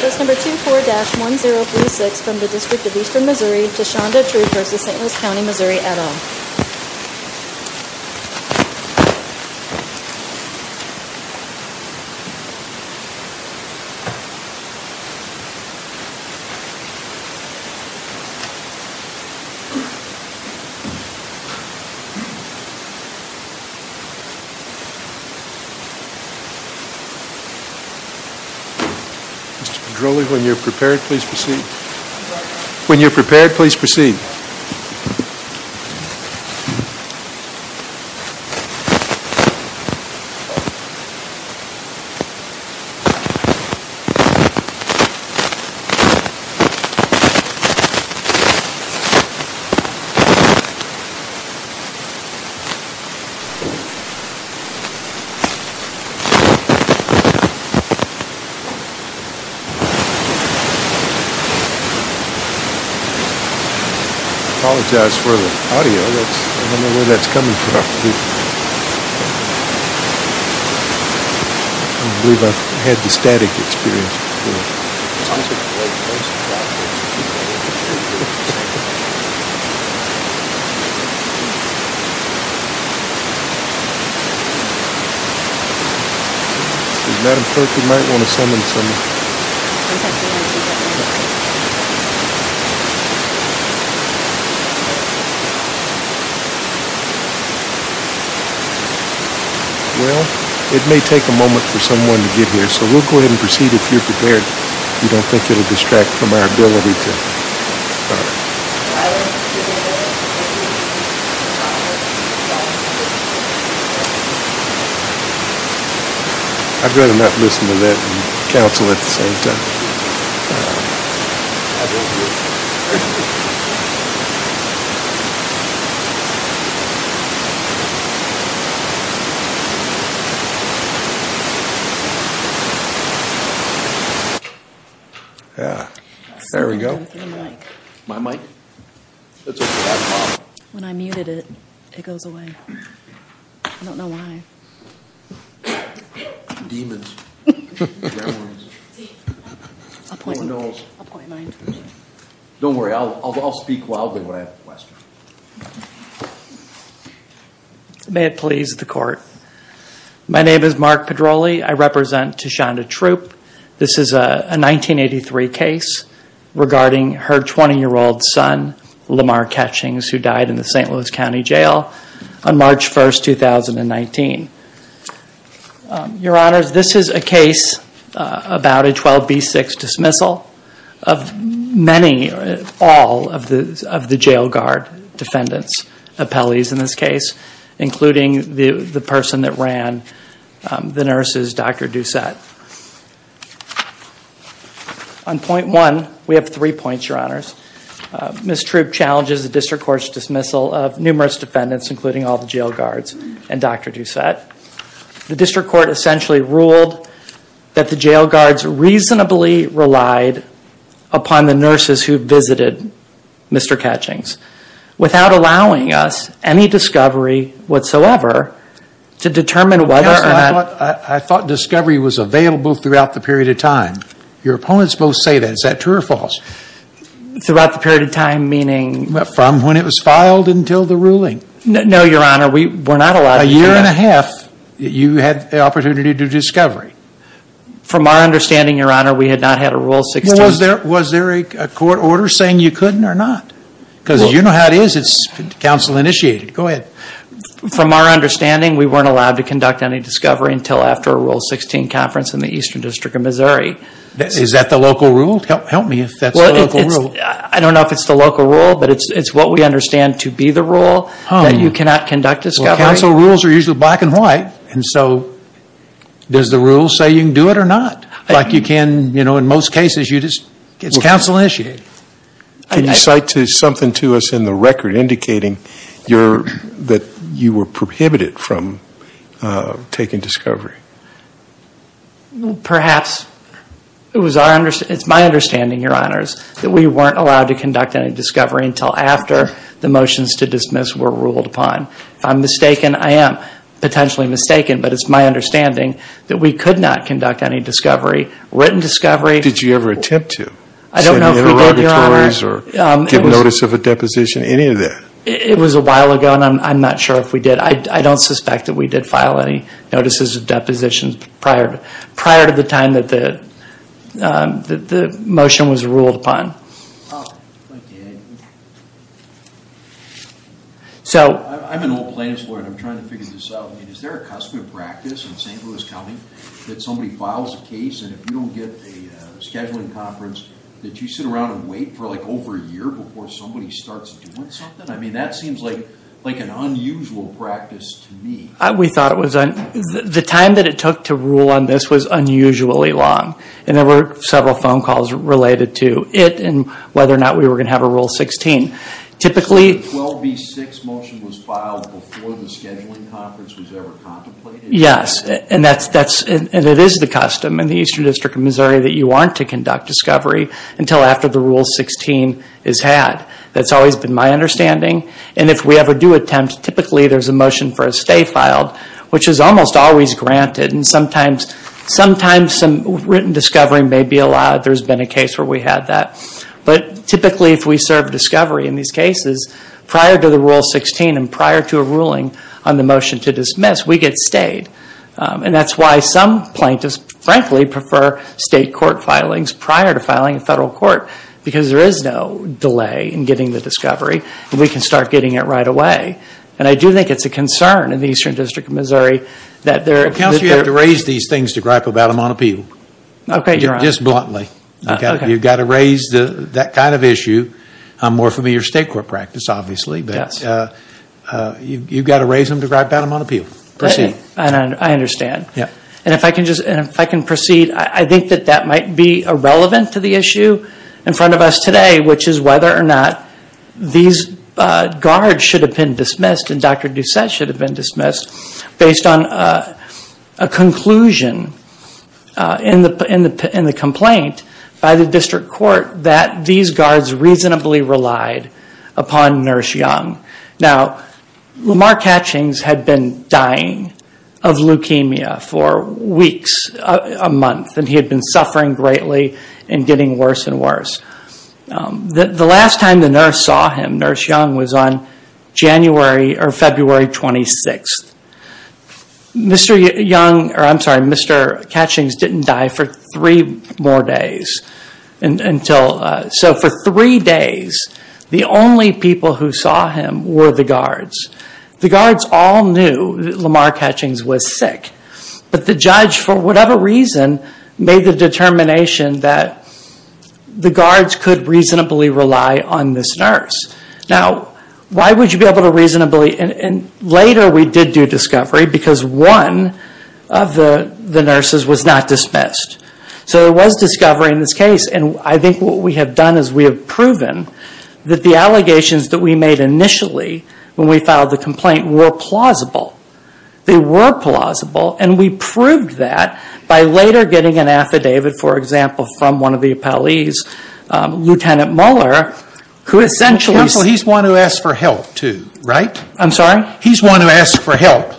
Bus number 24-1036 from the District of Eastern Missouri, Tashonda Troupe v. St. Louis County, Missouri at all. Mr. Pedroli, when you're prepared, please proceed. When you're prepared, please proceed. I apologize for the audio. I don't know where that's coming from. I believe I've had the static experience before. I'm just going to wait until she's out there. Madam Clerk, you might want to summon someone. Well, it may take a moment for someone to get here, so we'll go ahead and proceed if you're prepared. We don't think it'll distract from our ability to talk. I'd rather not listen to that and counsel at the same time. Thank you. There we go. My mic? When I muted it, it goes away. I don't know why. Demons. Appointments. Don't worry, I'll speak loudly when I have a question. May it please the Court. My name is Mark Pedroli. I represent Tashonda Troupe. This is a 1983 case regarding her 20-year-old son, Lamar Ketchings, who died in the St. Louis County Jail on March 1, 2019. Your Honors, this is a case about a 12B6 dismissal of many, all of the jail guard defendants, appellees in this case, including the person that ran the nurses, Dr. Doucette. On point one, we have three points, Your Honors. Ms. Troupe challenges the District Court's dismissal of numerous defendants, including all the jail guards and Dr. Doucette. The District Court essentially ruled that the jail guards reasonably relied upon the nurses who visited Mr. Ketchings, without allowing us any discovery whatsoever to determine whether or not... I thought discovery was available throughout the period of time. Your opponents both say that. Is that true or false? Throughout the period of time, meaning... From when it was filed until the ruling. No, Your Honor, we were not allowed to do that. A year and a half, you had the opportunity to do discovery. From our understanding, Your Honor, we had not had a Rule 16... Was there a court order saying you couldn't or not? Because you know how it is, it's counsel initiated. Go ahead. From our understanding, we weren't allowed to conduct any discovery until after a Rule 16 conference in the Eastern District of Missouri. Is that the local rule? Help me if that's the local rule. I don't know if it's the local rule, but it's what we understand to be the rule that you cannot conduct discovery. Counsel rules are usually black and white, and so does the rule say you can do it or not? Like you can, you know, in most cases, it's counsel initiated. Can you cite something to us in the record indicating that you were prohibited from taking discovery? Perhaps. It's my understanding, Your Honors, that we weren't allowed to conduct any discovery until after the motions to dismiss were ruled upon. If I'm mistaken, I am potentially mistaken, but it's my understanding that we could not conduct any discovery. Written discovery... Did you ever attempt to? I don't know if we did, Your Honor. Send in interrogatories or get notice of a deposition, any of that? It was a while ago, and I'm not sure if we did. I don't suspect that we did file any notices of depositions prior to the time that the motion was ruled upon. I'm an old plaintiff's lawyer, and I'm trying to figure this out. Is there a custom of practice in St. Louis County that somebody files a case, and if you don't get a scheduling conference, that you sit around and wait for over a year before somebody starts doing something? That seems like an unusual practice to me. The time that it took to rule on this was unusually long. There were several phone calls related to it and whether or not we were going to have a Rule 16. The 12B6 motion was filed before the scheduling conference was ever contemplated? Yes, and it is the custom in the Eastern District of Missouri that you aren't to conduct discovery until after the Rule 16 is had. That's always been my understanding, and if we ever do attempt, typically there's a motion for a stay filed, which is almost always granted, and sometimes some written discovery may be allowed. There's been a case where we had that. But typically if we serve discovery in these cases, prior to the Rule 16 and prior to a ruling on the motion to dismiss, we get stayed. And that's why some plaintiffs, frankly, prefer state court filings prior to filing a federal court, because there is no delay in getting the discovery, and we can start getting it right away. And I do think it's a concern in the Eastern District of Missouri. Counsel, you have to raise these things to gripe about them on appeal. Okay, you're on. Just bluntly. You've got to raise that kind of issue. I'm more familiar with state court practice, obviously. Yes. You've got to raise them to gripe about them on appeal. Proceed. I understand. Yes. And if I can proceed, I think that that might be irrelevant to the issue in front of us today, which is whether or not these guards should have been dismissed and Dr. Doucette should have been dismissed based on a conclusion in the complaint by the district court that these guards reasonably relied upon Nurse Young. Now, Lamar Catchings had been dying of leukemia for weeks, a month, and he had been suffering greatly and getting worse and worse. The last time the nurse saw him, Nurse Young, was on January or February 26th. Mr. Young, or I'm sorry, Mr. Catchings didn't die for three more days. So for three days, the only people who saw him were the guards. The guards all knew that Lamar Catchings was sick, but the judge, for whatever reason, made the determination that the guards could reasonably rely on this nurse. Now, why would you be able to reasonably? And later we did do discovery because one of the nurses was not dismissed. So there was discovery in this case. And I think what we have done is we have proven that the allegations that we made initially when we filed the complaint were plausible. They were plausible. And we proved that by later getting an affidavit, for example, from one of the appellees, Lieutenant Muller, who essentially said- He's the one who asked for help too, right? I'm sorry? He's the one who asked for help.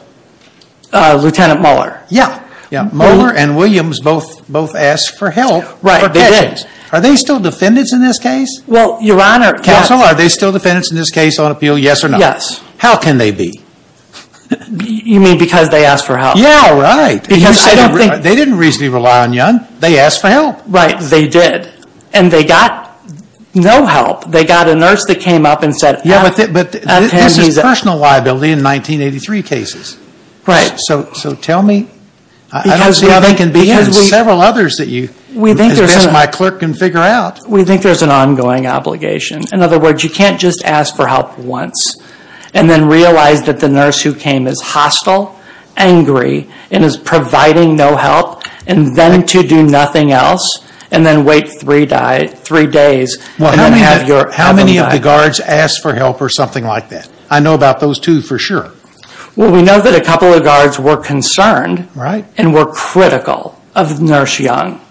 Lieutenant Muller? Yeah. Muller and Williams both asked for help. Right, they did. Are they still defendants in this case? Well, Your Honor- Counsel, are they still defendants in this case on appeal, yes or no? Yes. How can they be? You mean because they asked for help? Yeah, right. Because I don't think- They didn't reasonably rely on Young. They asked for help. Right, they did. And they got no help. They got a nurse that came up and said- Yeah, but this is personal liability in 1983 cases. Right. So tell me- I don't see how they can be in several others that you- We think there's- As best my clerk can figure out. We think there's an ongoing obligation. In other words, you can't just ask for help once and then realize that the nurse who came is hostile, angry, and is providing no help, and then to do nothing else, and then wait three days- How many of the guards asked for help or something like that? I know about those two for sure. Well, we know that a couple of guards were concerned and were critical of Nurse Young.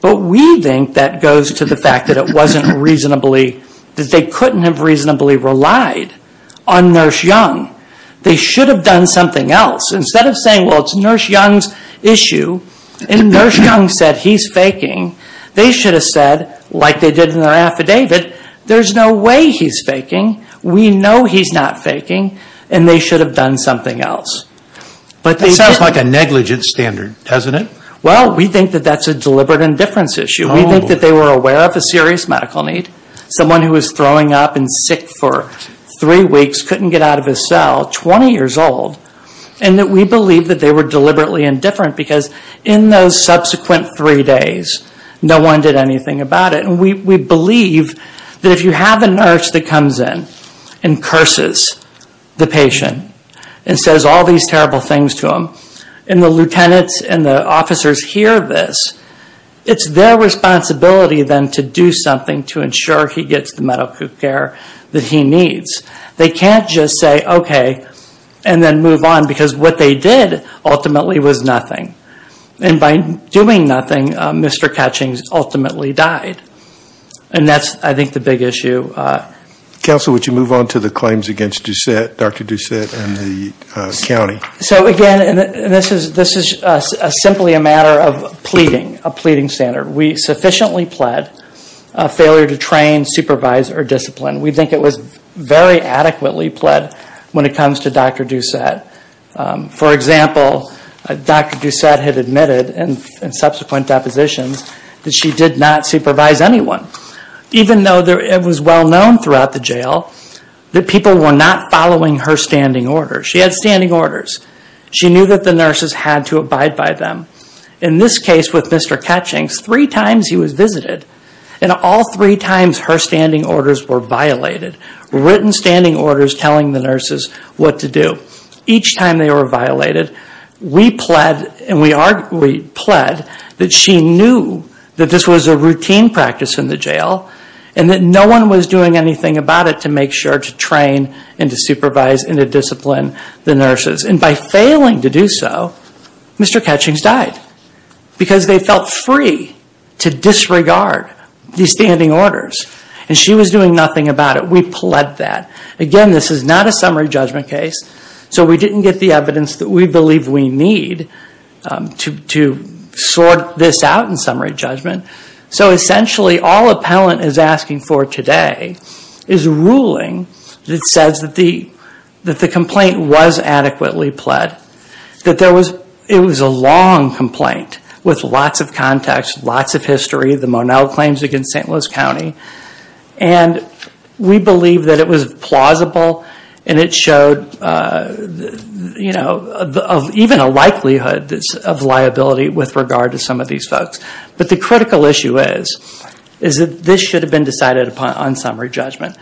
But we think that goes to the fact that it wasn't reasonably- that they couldn't have reasonably relied on Nurse Young. They should have done something else. Instead of saying, well, it's Nurse Young's issue, and Nurse Young said he's faking, they should have said, like they did in their affidavit, there's no way he's faking. We know he's not faking, and they should have done something else. But they didn't- That sounds like a negligent standard, doesn't it? Well, we think that that's a deliberate indifference issue. We think that they were aware of a serious medical need. Someone who was throwing up and sick for three weeks couldn't get out of his cell, 20 years old, and that we believe that they were deliberately indifferent because in those subsequent three days, no one did anything about it. We believe that if you have a nurse that comes in and curses the patient and says all these terrible things to him, and the lieutenants and the officers hear this, it's their responsibility then to do something to ensure he gets the medical care that he needs. They can't just say, okay, and then move on because what they did ultimately was nothing. And by doing nothing, Mr. Catchings ultimately died. And that's, I think, the big issue. Counsel, would you move on to the claims against Dr. Doucette and the county? So again, this is simply a matter of pleading, a pleading standard. We sufficiently pled failure to train, supervise, or discipline. We think it was very adequately pled when it comes to Dr. Doucette. For example, Dr. Doucette had admitted in subsequent depositions that she did not supervise anyone, even though it was well known throughout the jail that people were not following her standing orders. She had standing orders. She knew that the nurses had to abide by them. In this case with Mr. Catchings, three times he was visited, and all three times her standing orders were violated, written standing orders telling the nurses what to do. Each time they were violated, we pled, and we pled, that she knew that this was a routine practice in the jail and that no one was doing anything about it to make sure to train and to supervise and to discipline the nurses. And by failing to do so, Mr. Catchings died because they felt free to disregard these standing orders. And she was doing nothing about it. We pled that. Again, this is not a summary judgment case, so we didn't get the evidence that we believe we need to sort this out in summary judgment. So essentially, all appellant is asking for today is a ruling that says that the complaint was adequately pled, that it was a long complaint with lots of context, lots of history, the Monell claims against St. Louis County. And we believe that it was plausible and it showed even a likelihood of liability with regard to some of these folks. But the critical issue is that this should have been decided upon on summary judgment.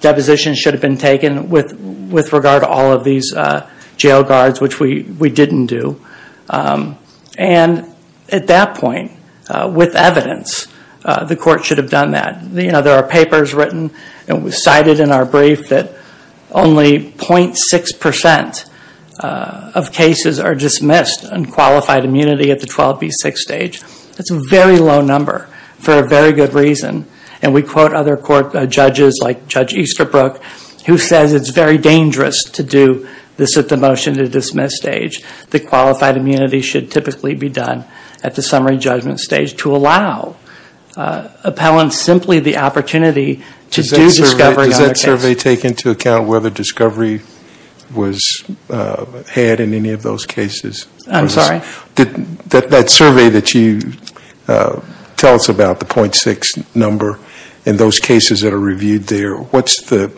Deposition should have been taken with regard to all of these jail guards, which we didn't do. And at that point, with evidence, the court should have done that. There are papers written and cited in our brief that only 0.6% of cases are dismissed on qualified immunity at the 12B6 stage. That's a very low number for a very good reason. And we quote other court judges like Judge Easterbrook, who says it's very dangerous to do this at the motion to dismiss stage. The qualified immunity should typically be done at the summary judgment stage to allow appellants simply the opportunity to do discovery on their case. Does that survey take into account whether discovery was had in any of those cases? I'm sorry? That survey that you tell us about, the 0.6 number, and those cases that are reviewed there, what's the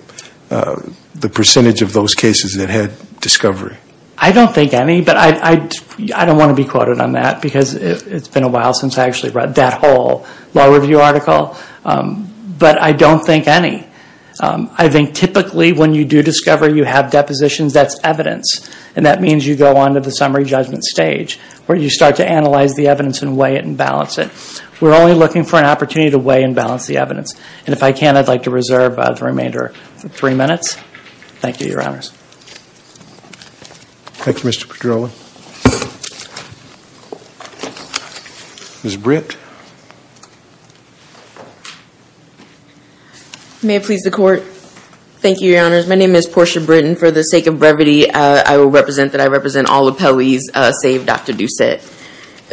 percentage of those cases that had discovery? I don't think any, but I don't want to be quoted on that because it's been a while since I actually read that whole law review article. But I don't think any. I think typically when you do discover you have depositions, that's evidence. And that means you go on to the summary judgment stage where you start to analyze the evidence and weigh it and balance it. We're only looking for an opportunity to weigh and balance the evidence. And if I can, I'd like to reserve the remainder for three minutes. Thank you, Your Honors. Thank you, Mr. Pedrola. Ms. Britt. May it please the Court. Thank you, Your Honors. My name is Portia Britt, and for the sake of brevity, I will represent that I represent all appellees save Dr. Doucette.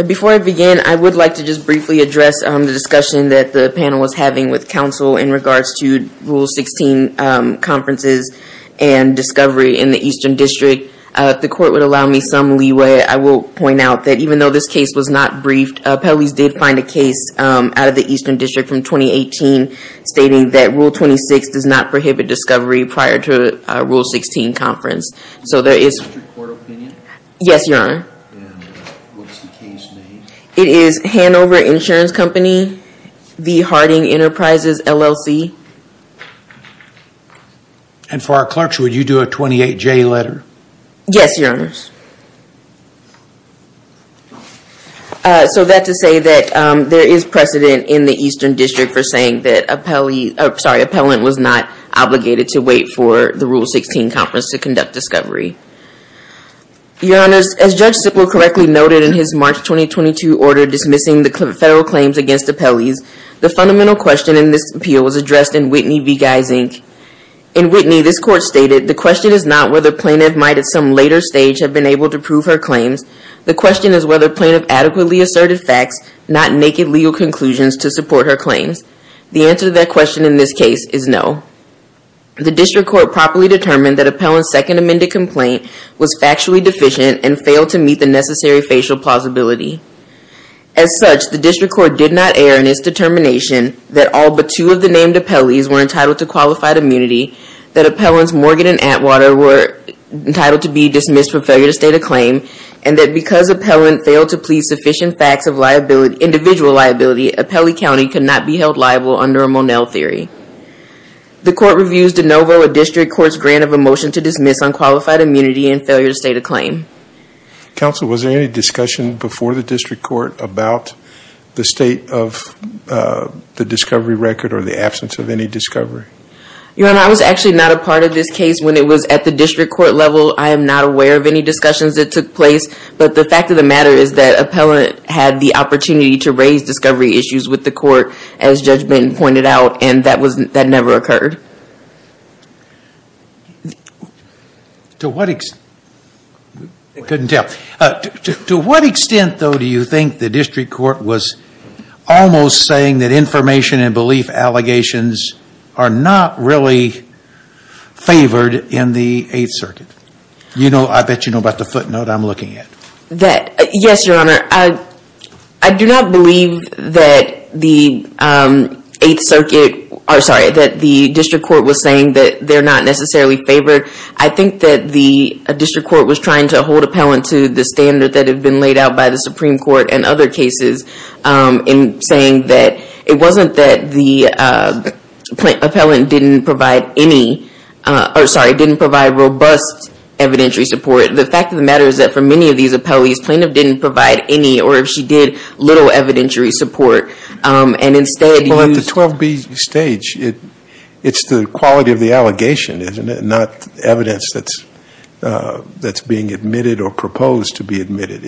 Before I begin, I would like to just briefly address the discussion that the panel was having with counsel in regards to Rule 16 conferences and discovery in the Eastern District. If the Court would allow me some leeway, I will point out that even though this case was not briefed, appellees did find a case out of the Eastern District from 2018 stating that Rule 26 does not prohibit discovery prior to a Rule 16 conference. So there is. Is this your court opinion? Yes, Your Honor. And what's the case name? It is Hanover Insurance Company v. Harding Enterprises, LLC. And for our clerks, would you do a 28-J letter? Yes, Your Honors. So that to say that there is precedent in the Eastern District for saying that appellee, sorry, appellant was not obligated to wait for the Rule 16 conference to conduct discovery. Your Honors, as Judge Sippler correctly noted in his March 2022 order dismissing the federal claims against appellees, the fundamental question in this appeal was addressed in Whitney v. Guys, Inc. In Whitney, this court stated, the question is not whether plaintiff might at some later stage have been able to prove her claims. The question is whether plaintiff adequately asserted facts, not naked legal conclusions to support her claims. The answer to that question in this case is no. The District Court properly determined that appellant's second amended complaint was factually deficient and failed to meet the necessary facial plausibility. As such, the District Court did not err in its determination that all but two of the named appellees were entitled to qualified immunity, that appellants Morgan and Atwater were entitled to be dismissed for failure to state a claim, and that because appellant failed to plead sufficient facts of individual liability, Appellee County could not be held liable under a Monell theory. The court reviews de novo a District Court's grant of a motion to dismiss unqualified immunity and failure to state a claim. Counsel, was there any discussion before the District Court about the state of the discovery record or the absence of any discovery? Your Honor, I was actually not a part of this case when it was at the District Court level. I am not aware of any discussions that took place, but the fact of the matter is that appellant had the opportunity to raise discovery issues with the court, as Judge Benton pointed out, and that never occurred. To what extent, though, do you think the District Court was almost saying that information and belief allegations are not really favored in the Eighth Circuit? I bet you know about the footnote I'm looking at. Yes, Your Honor. I do not believe that the District Court was saying that they're not necessarily favored. I think that the District Court was trying to hold appellant to the standard that had been laid out by the Supreme Court in other cases in saying that it wasn't that the appellant didn't provide robust evidentiary support. The fact of the matter is that for many of these appellees, plaintiff didn't provide any or if she did, little evidentiary support. At the 12B stage, it's the quality of the allegation, isn't it, not evidence that's being admitted or proposed to be admitted.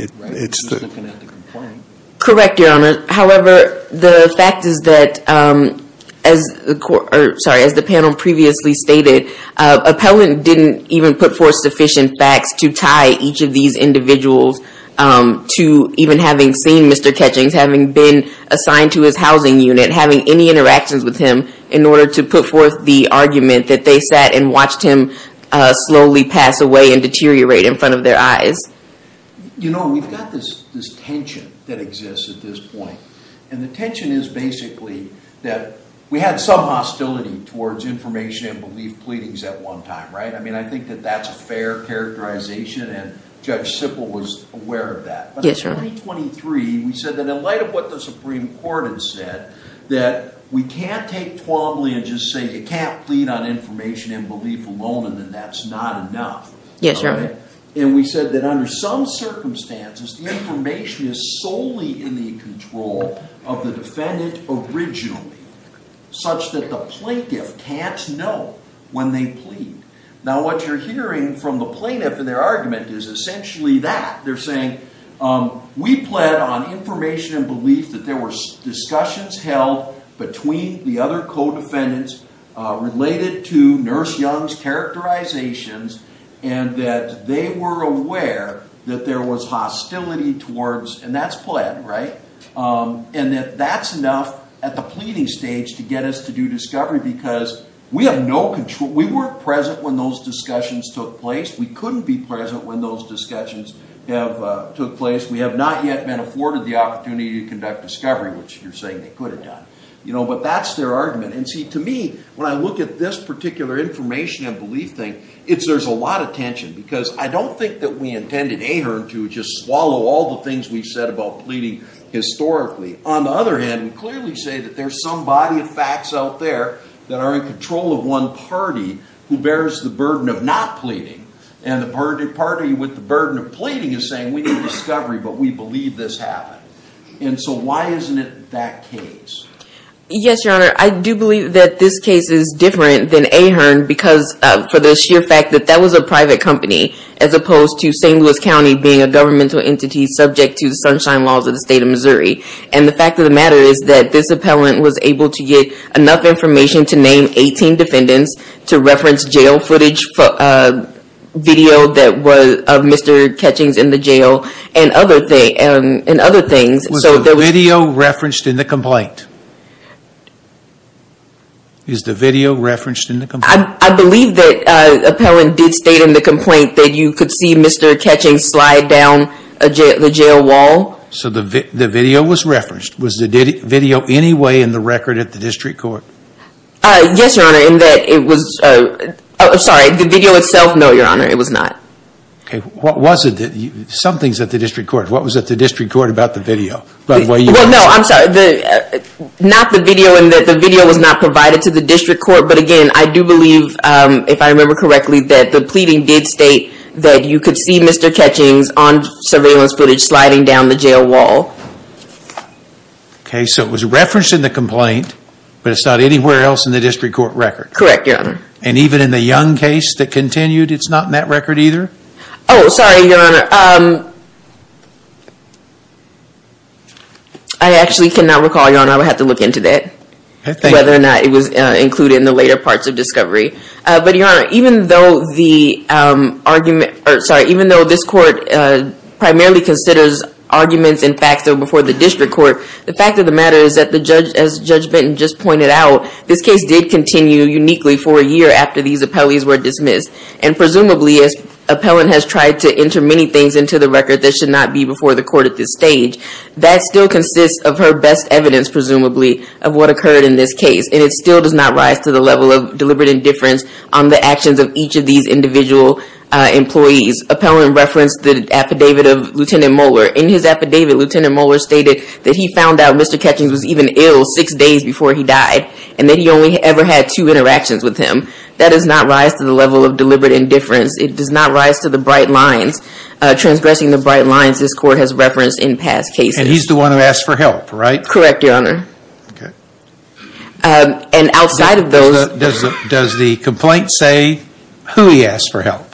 Correct, Your Honor. However, the fact is that, as the panel previously stated, appellant didn't even put forth sufficient facts to tie each of these individuals to even having seen Mr. Ketchings, having been assigned to his housing unit, having any interactions with him in order to put forth the argument that they sat and watched him slowly pass away and deteriorate in front of their eyes. You know, we've got this tension that exists at this point, and the tension is basically that we had some hostility towards information and belief pleadings at one time, right? I mean, I think that that's a fair characterization, and Judge Sippel was aware of that. Yes, Your Honor. But in 2023, we said that in light of what the Supreme Court had said, that we can't take 12B and just say you can't plead on information and belief alone and then that's not enough. Yes, Your Honor. And we said that under some circumstances, the information is solely in the control of the defendant originally, such that the plaintiff can't know when they plead. Now, what you're hearing from the plaintiff in their argument is essentially that. They're saying, we plead on information and belief that there were discussions held between the other co-defendants related to Nurse Young's characterizations and that they were aware that there was hostility towards, and that's pled, right? And that that's enough at the pleading stage to get us to do discovery because we have no control. We weren't present when those discussions took place. We couldn't be present when those discussions took place. We have not yet been afforded the opportunity to conduct discovery, which you're saying they could have done. But that's their argument. And see, to me, when I look at this particular information and belief thing, there's a lot of tension because I don't think that we intended Ahearn to just swallow all the things we've said about pleading historically. On the other hand, we clearly say that there's some body of facts out there that are in control of one party who bears the burden of not pleading. And the party with the burden of pleading is saying, we need discovery but we believe this happened. And so why isn't it that case? Yes, Your Honor, I do believe that this case is different than Ahearn because of the sheer fact that that was a private company as opposed to St. Louis County being a governmental entity subject to the Sunshine Laws of the State of Missouri. And the fact of the matter is that this appellant was able to get enough information to name 18 defendants, to reference jail footage, video of Mr. Ketchings in the jail, and other things. Was the video referenced in the complaint? Is the video referenced in the complaint? I believe that the appellant did state in the complaint that you could see Mr. Ketchings slide down the jail wall. So the video was referenced. Was the video any way in the record at the district court? Yes, Your Honor, in that it was... I'm sorry, the video itself, no, Your Honor, it was not. Okay, what was it? Something's at the district court. What was at the district court about the video? Well, no, I'm sorry. Not the video in that the video was not provided to the district court, but again, I do believe, if I remember correctly, that the pleading did state that you could see Mr. Ketchings on surveillance footage sliding down the jail wall. Okay, so it was referenced in the complaint, but it's not anywhere else in the district court record. Correct, Your Honor. And even in the Young case that continued, it's not in that record either? Oh, sorry, Your Honor. I actually cannot recall, Your Honor. I would have to look into that, whether or not it was included in the later parts of discovery. But, Your Honor, even though the argument... Sorry, even though this court primarily considers arguments and facts that were before the district court, the fact of the matter is that, as Judge Benton just pointed out, this case did continue uniquely for a year after these appellees were dismissed. And presumably, as Appellant has tried to enter many things into the record that should not be before the court at this stage, that still consists of her best evidence, presumably, of what occurred in this case. And it still does not rise to the level of deliberate indifference on the actions of each of these individual employees. Appellant referenced the affidavit of Lieutenant Moeller. In his affidavit, Lieutenant Moeller stated that he found out Mr. Ketchings was even ill six days before he died, and that he only ever had two interactions with him. That does not rise to the level of deliberate indifference. It does not rise to the bright lines. Transgressing the bright lines this court has referenced in past cases. And he's the one who asked for help, right? Correct, Your Honor. And outside of those... Does the complaint say who he asked for help?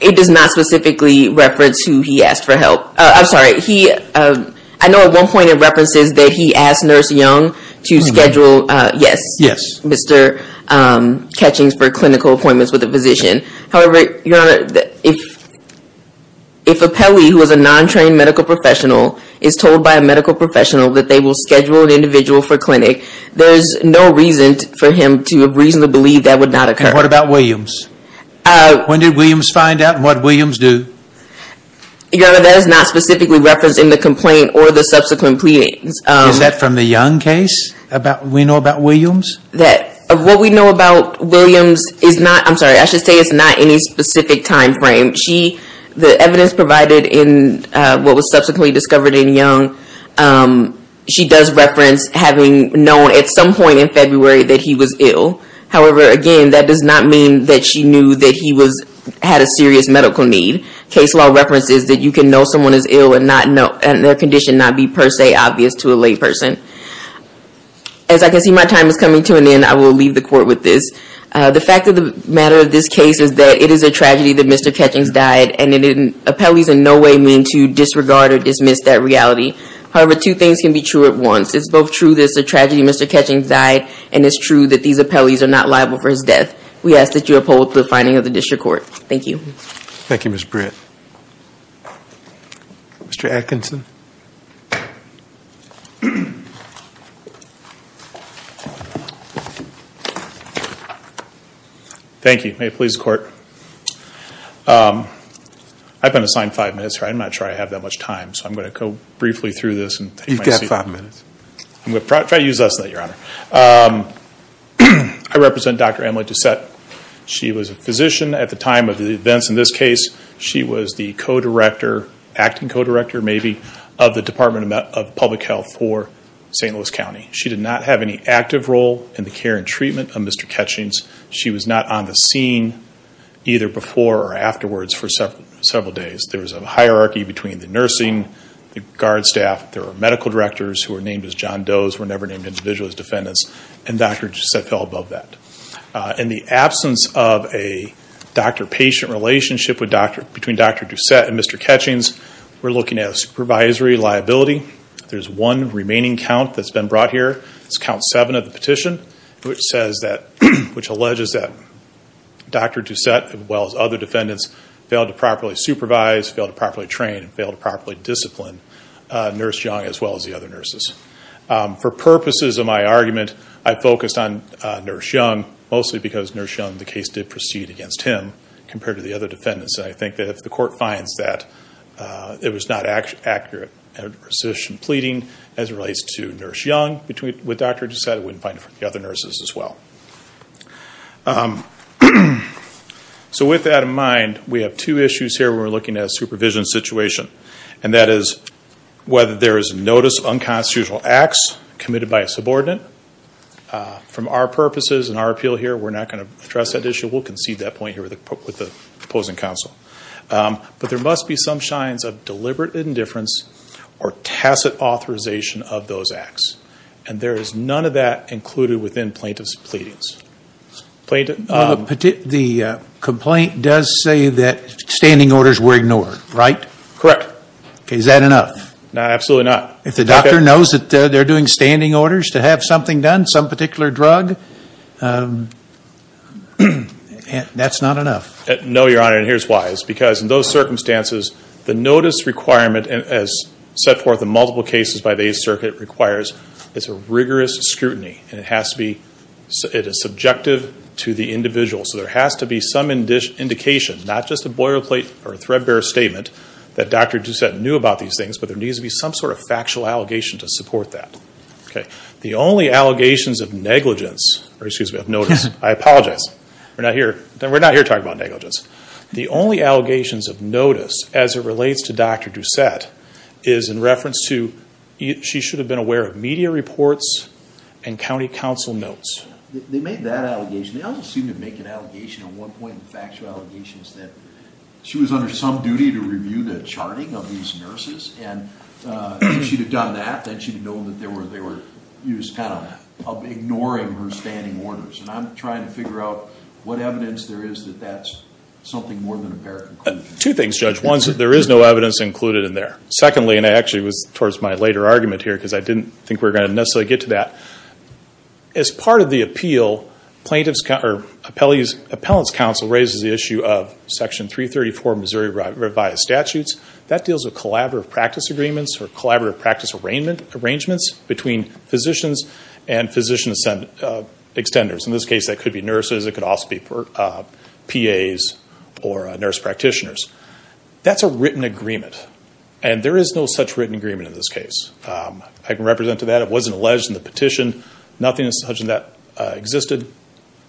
It does not specifically reference who he asked for help. I'm sorry. I know at one point it references that he asked Nurse Young to schedule... Yes. Mr. Ketchings for clinical appointments with a physician. However, Your Honor, if... If Appellee, who is a non-trained medical professional, is told by a medical professional that they will schedule an individual for clinic, there is no reason for him to reasonably believe that would not occur. And what about Williams? When did Williams find out, and what did Williams do? Your Honor, that is not specifically referenced in the complaint or the subsequent pleadings. Is that from the Young case we know about Williams? What we know about Williams is not... I'm sorry, I should say it's not any specific time frame. The evidence provided in what was subsequently discovered in Young, she does reference having known at some point in February that he was ill. However, again, that does not mean that she knew that he had a serious medical need. Case law references that you can know someone is ill and their condition not be per se obvious to a lay person. As I can see, my time is coming to an end. I will leave the Court with this. The fact of the matter of this case is that it is a tragedy that Mr. Ketchings died, and appellees in no way mean to disregard or dismiss that reality. However, two things can be true at once. It's both true that it's a tragedy that Mr. Ketchings died, and it's true that these appellees are not liable for his death. We ask that you uphold the finding of the District Court. Thank you. Thank you, Ms. Britt. Mr. Atkinson. Thank you. May it please the Court. I've been assigned five minutes. I'm not sure I have that much time, so I'm going to go briefly through this. You've got five minutes. I'm going to try to use less than that, Your Honor. I represent Dr. Emily Doucette. She was a physician at the time of the events in this case. She was the co-director, acting co-director maybe, of the Department of Public Health for St. Louis County. She did not have any active role in the care and treatment of Mr. Ketchings. She was not on the scene either before or afterwards for several days. There was a hierarchy between the nursing, the guard staff. There were medical directors who were named as John Does, were never named individually as defendants, and Dr. Doucette fell above that. In the absence of a doctor-patient relationship between Dr. Doucette and Mr. Ketchings, we're looking at a supervisory liability. There's one remaining count that's been brought here. It's count seven of the petition, which alleges that Dr. Doucette, as well as other defendants, failed to properly supervise, failed to properly train, and failed to properly discipline Nurse Young as well as the other nurses. For purposes of my argument, I focused on Nurse Young, mostly because Nurse Young, the case did proceed against him compared to the other defendants. I think that if the court finds that it was not accurate in the position of pleading as it relates to Nurse Young, with Dr. Doucette, it wouldn't apply to the other nurses as well. So with that in mind, we have two issues here when we're looking at a supervision situation. And that is whether there is notice of unconstitutional acts committed by a subordinate. From our purposes and our appeal here, we're not going to address that issue. We'll concede that point here with the opposing counsel. But there must be some signs of deliberate indifference or tacit authorization of those acts. And there is none of that included within plaintiff's pleadings. The complaint does say that standing orders were ignored, right? Correct. Is that enough? Absolutely not. If the doctor knows that they're doing standing orders to have something done, some particular drug, that's not enough? No, Your Honor, and here's why. It's because in those circumstances, the notice requirement as set forth in multiple cases by the Eighth Circuit requires is a rigorous scrutiny. It is subjective to the individual. So there has to be some indication, not just a boilerplate or threadbare statement, that Dr. Doucette knew about these things, but there needs to be some sort of factual allegation to support that. The only allegations of negligence, or excuse me, of notice, I apologize, we're not here talking about negligence. The only allegations of notice as it relates to Dr. Doucette is in reference to she should have been aware of media reports and county counsel notes. They made that allegation. They also seem to make an allegation at one point of factual allegations that she was under some duty to review the charting of these nurses, and if she'd have done that, then she'd have known that they were used kind of ignoring her standing orders. And I'm trying to figure out what evidence there is that that's something more than a paraconclusion. Two things, Judge. One is that there is no evidence included in there. Secondly, and actually it was towards my later argument here because I didn't think we were going to necessarily get to that, as part of the appeal, Appellant's counsel raises the issue of Section 334 of Missouri Revised Statutes. That deals with collaborative practice agreements or collaborative practice arrangements between physicians and physician extenders. In this case, that could be nurses. It could also be PAs or nurse practitioners. That's a written agreement, and there is no such written agreement in this case. I can represent to that. It wasn't alleged in the petition. Nothing as such in that existed.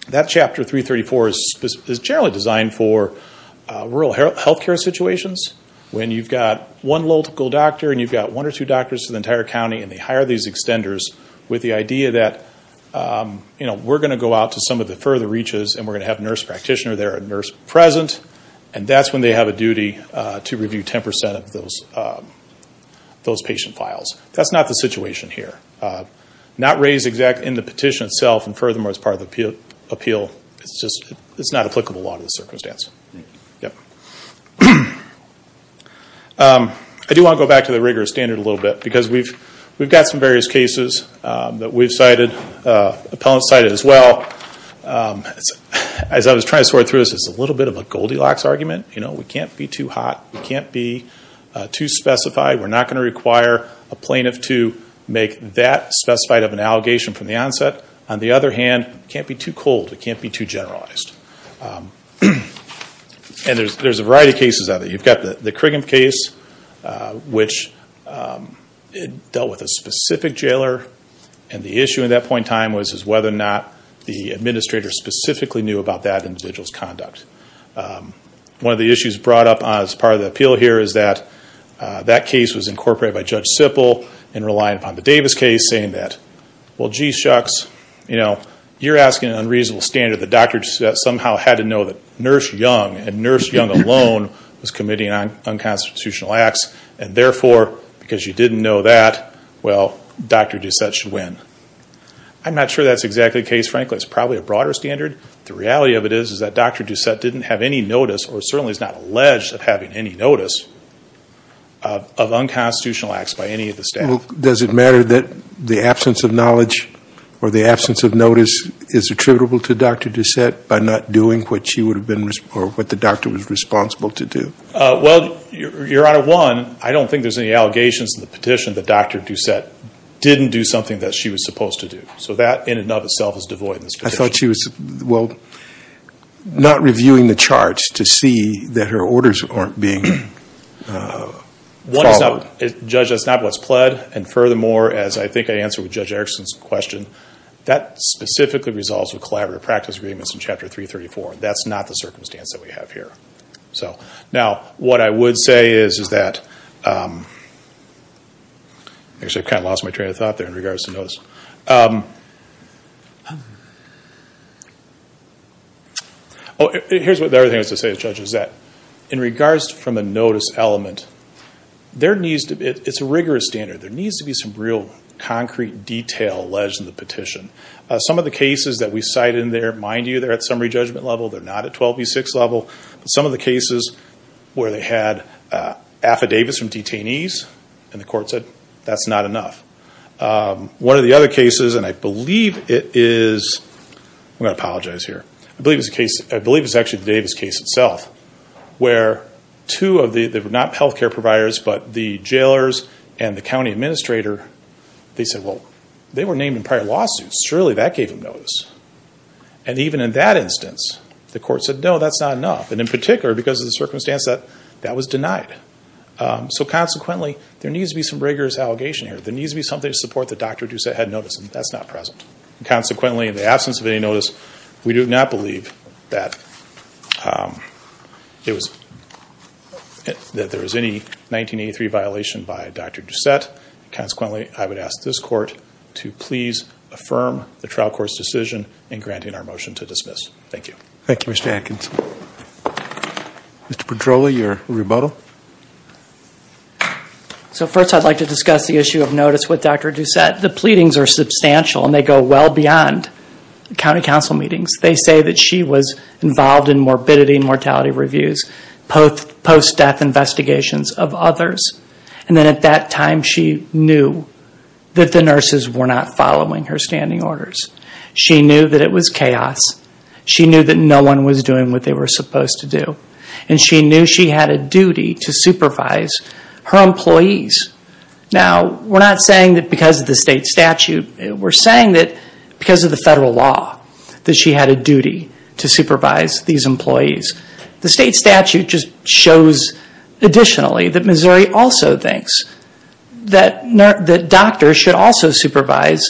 That Chapter 334 is generally designed for rural health care situations when you've got one local doctor and you've got one or two doctors in the entire county, and they hire these extenders with the idea that, you know, we're going to go out to some of the further reaches and we're going to have a nurse practitioner there, a nurse present, and that's when they have a duty to review 10% of those patient files. That's not the situation here. Not raised exactly in the petition itself, and furthermore, it's part of the appeal. It's not applicable to a lot of the circumstances. I do want to go back to the rigorous standard a little bit because we've got some various cases that we've cited, appellants cited as well. As I was trying to sort through this, it's a little bit of a Goldilocks argument. You know, we can't be too hot. We can't be too specified. We're not going to require a plaintiff to make that specified of an allegation from the onset. On the other hand, it can't be too cold. It can't be too generalized. And there's a variety of cases of it. You've got the Criggin case, which dealt with a specific jailer, and the issue at that point in time was whether or not the administrator specifically knew about that individual's conduct. One of the issues brought up as part of the appeal here is that that case was incorporated by Judge Sippel and relied upon the Davis case, saying that, well, gee shucks, you're asking an unreasonable standard that Dr. Doucette somehow had to know that Nurse Young, and Nurse Young alone, was committing unconstitutional acts, and therefore, because you didn't know that, well, Dr. Doucette should win. I'm not sure that's exactly the case, frankly. It's probably a broader standard. The reality of it is that Dr. Doucette didn't have any notice or certainly is not alleged of having any notice of unconstitutional acts by any of the staff. Well, does it matter that the absence of knowledge or the absence of notice is attributable to Dr. Doucette by not doing what the doctor was responsible to do? Well, Your Honor, one, I don't think there's any allegations in the petition that Dr. Doucette didn't do something that she was supposed to do. So that in and of itself is devoid in this petition. I thought she was, well, not reviewing the charts to see that her orders aren't being followed. One is not, Judge, that's not what's pled. And furthermore, as I think I answered with Judge Erickson's question, that specifically resolves with collaborative practice agreements in Chapter 334. That's not the circumstance that we have here. Now, what I would say is that, actually, I kind of lost my train of thought there in regards to notice. Here's what the other thing I was going to say, Judge, is that in regards from a notice element, there needs to be, it's a rigorous standard, there needs to be some real concrete detail alleged in the petition. Some of the cases that we cite in there, mind you, they're at summary judgment level, they're not at 12B6 level. But some of the cases where they had affidavits from detainees and the court said, that's not enough. One of the other cases, and I believe it is, I'm going to apologize here, I believe it's actually the Davis case itself, where two of the, they were not health care providers, but the jailers and the county administrator, they said, well, they were named in prior lawsuits, surely that gave them notice. And even in that instance, the court said, no, that's not enough. And in particular, because of the circumstance, that was denied. So consequently, there needs to be some rigorous allegation here. There needs to be something to support that Dr. Doucette had notice, and that's not present. Consequently, in the absence of any notice, we do not believe that there was any 1983 violation by Dr. Doucette. Consequently, I would ask this court to please affirm the trial court's decision in granting our motion to dismiss. Thank you. Thank you, Mr. Atkinson. Mr. Petroli, your rebuttal. So first, I'd like to discuss the issue of notice with Dr. Doucette. The pleadings are substantial, and they go well beyond county council meetings. They say that she was involved in morbidity and mortality reviews, post-death investigations of others. And then at that time, she knew that the nurses were not following her standing orders. She knew that it was chaos. She knew that no one was doing what they were supposed to do. And she knew she had a duty to supervise her employees. Now, we're not saying that because of the state statute. We're saying that because of the federal law, that she had a duty to supervise these employees. The state statute just shows additionally that Missouri also thinks that doctors should also supervise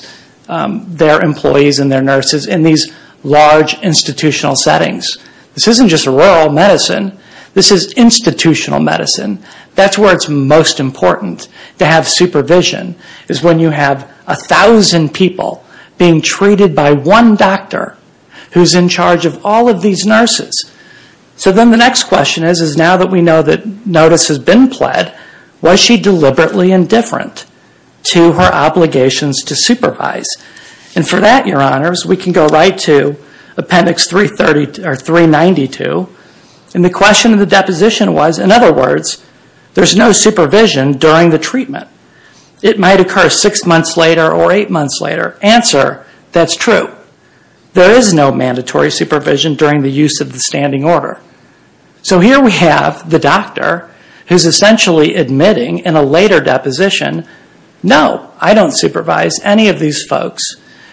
their employees and their nurses in these large institutional settings. This isn't just rural medicine. This is institutional medicine. That's where it's most important to have supervision, is when you have 1,000 people being treated by one doctor who's in charge of all of these nurses. So then the next question is, is now that we know that notice has been pled, was she deliberately indifferent to her obligations to supervise? And for that, Your Honors, we can go right to Appendix 392. And the question of the deposition was, in other words, there's no supervision during the treatment. It might occur six months later or eight months later. Answer, that's true. There is no mandatory supervision during the use of the standing order. So here we have the doctor who's essentially admitting in a later deposition, no, I don't supervise any of these folks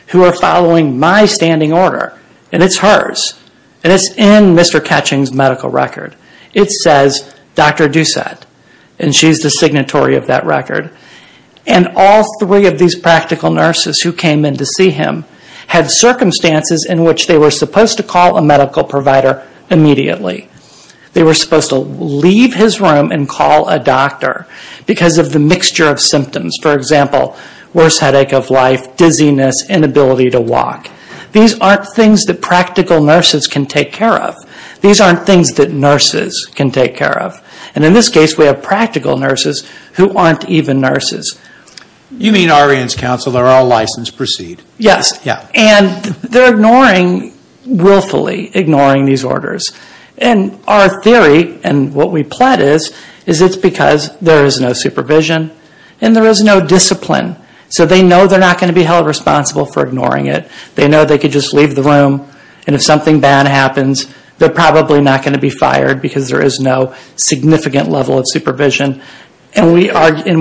who are following my standing order, and it's hers. And it's in Mr. Ketching's medical record. It says Dr. Doucette, and she's the signatory of that record. And all three of these practical nurses who came in to see him had circumstances in which they were supposed to call a medical provider immediately. They were supposed to leave his room and call a doctor because of the mixture of symptoms. For example, worse headache of life, dizziness, inability to walk. These aren't things that practical nurses can take care of. These aren't things that nurses can take care of. And in this case, we have practical nurses who aren't even nurses. You mean Ariens Council, they're all licensed, proceed. Yes. Yeah. And they're ignoring, willfully ignoring these orders. And our theory and what we plot is, is it's because there is no supervision and there is no discipline. So they know they're not going to be held responsible for ignoring it. They know they could just leave the room and if something bad happens, they're probably not going to be fired because there is no significant level of supervision. And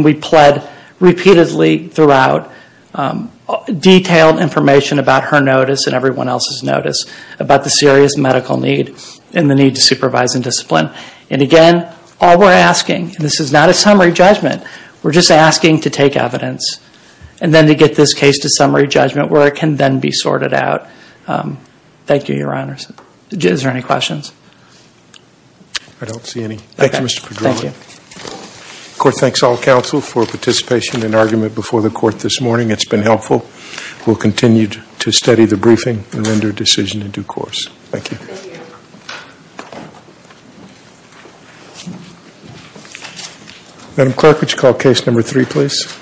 we plead repeatedly throughout detailed information about her notice and everyone else's notice about the serious medical need and the need to supervise and discipline. And again, all we're asking, and this is not a summary judgment, we're just asking to take evidence. And then to get this case to summary judgment where it can then be sorted out. Thank you, Your Honors. Is there any questions? I don't see any. Thank you, Mr. Padron. Thank you. The court thanks all counsel for participation in argument before the court this morning. It's been helpful. We'll continue to study the briefing and render a decision in due course. Thank you. Thank you. Thank you. Madam Clerk, would you call case number three, please?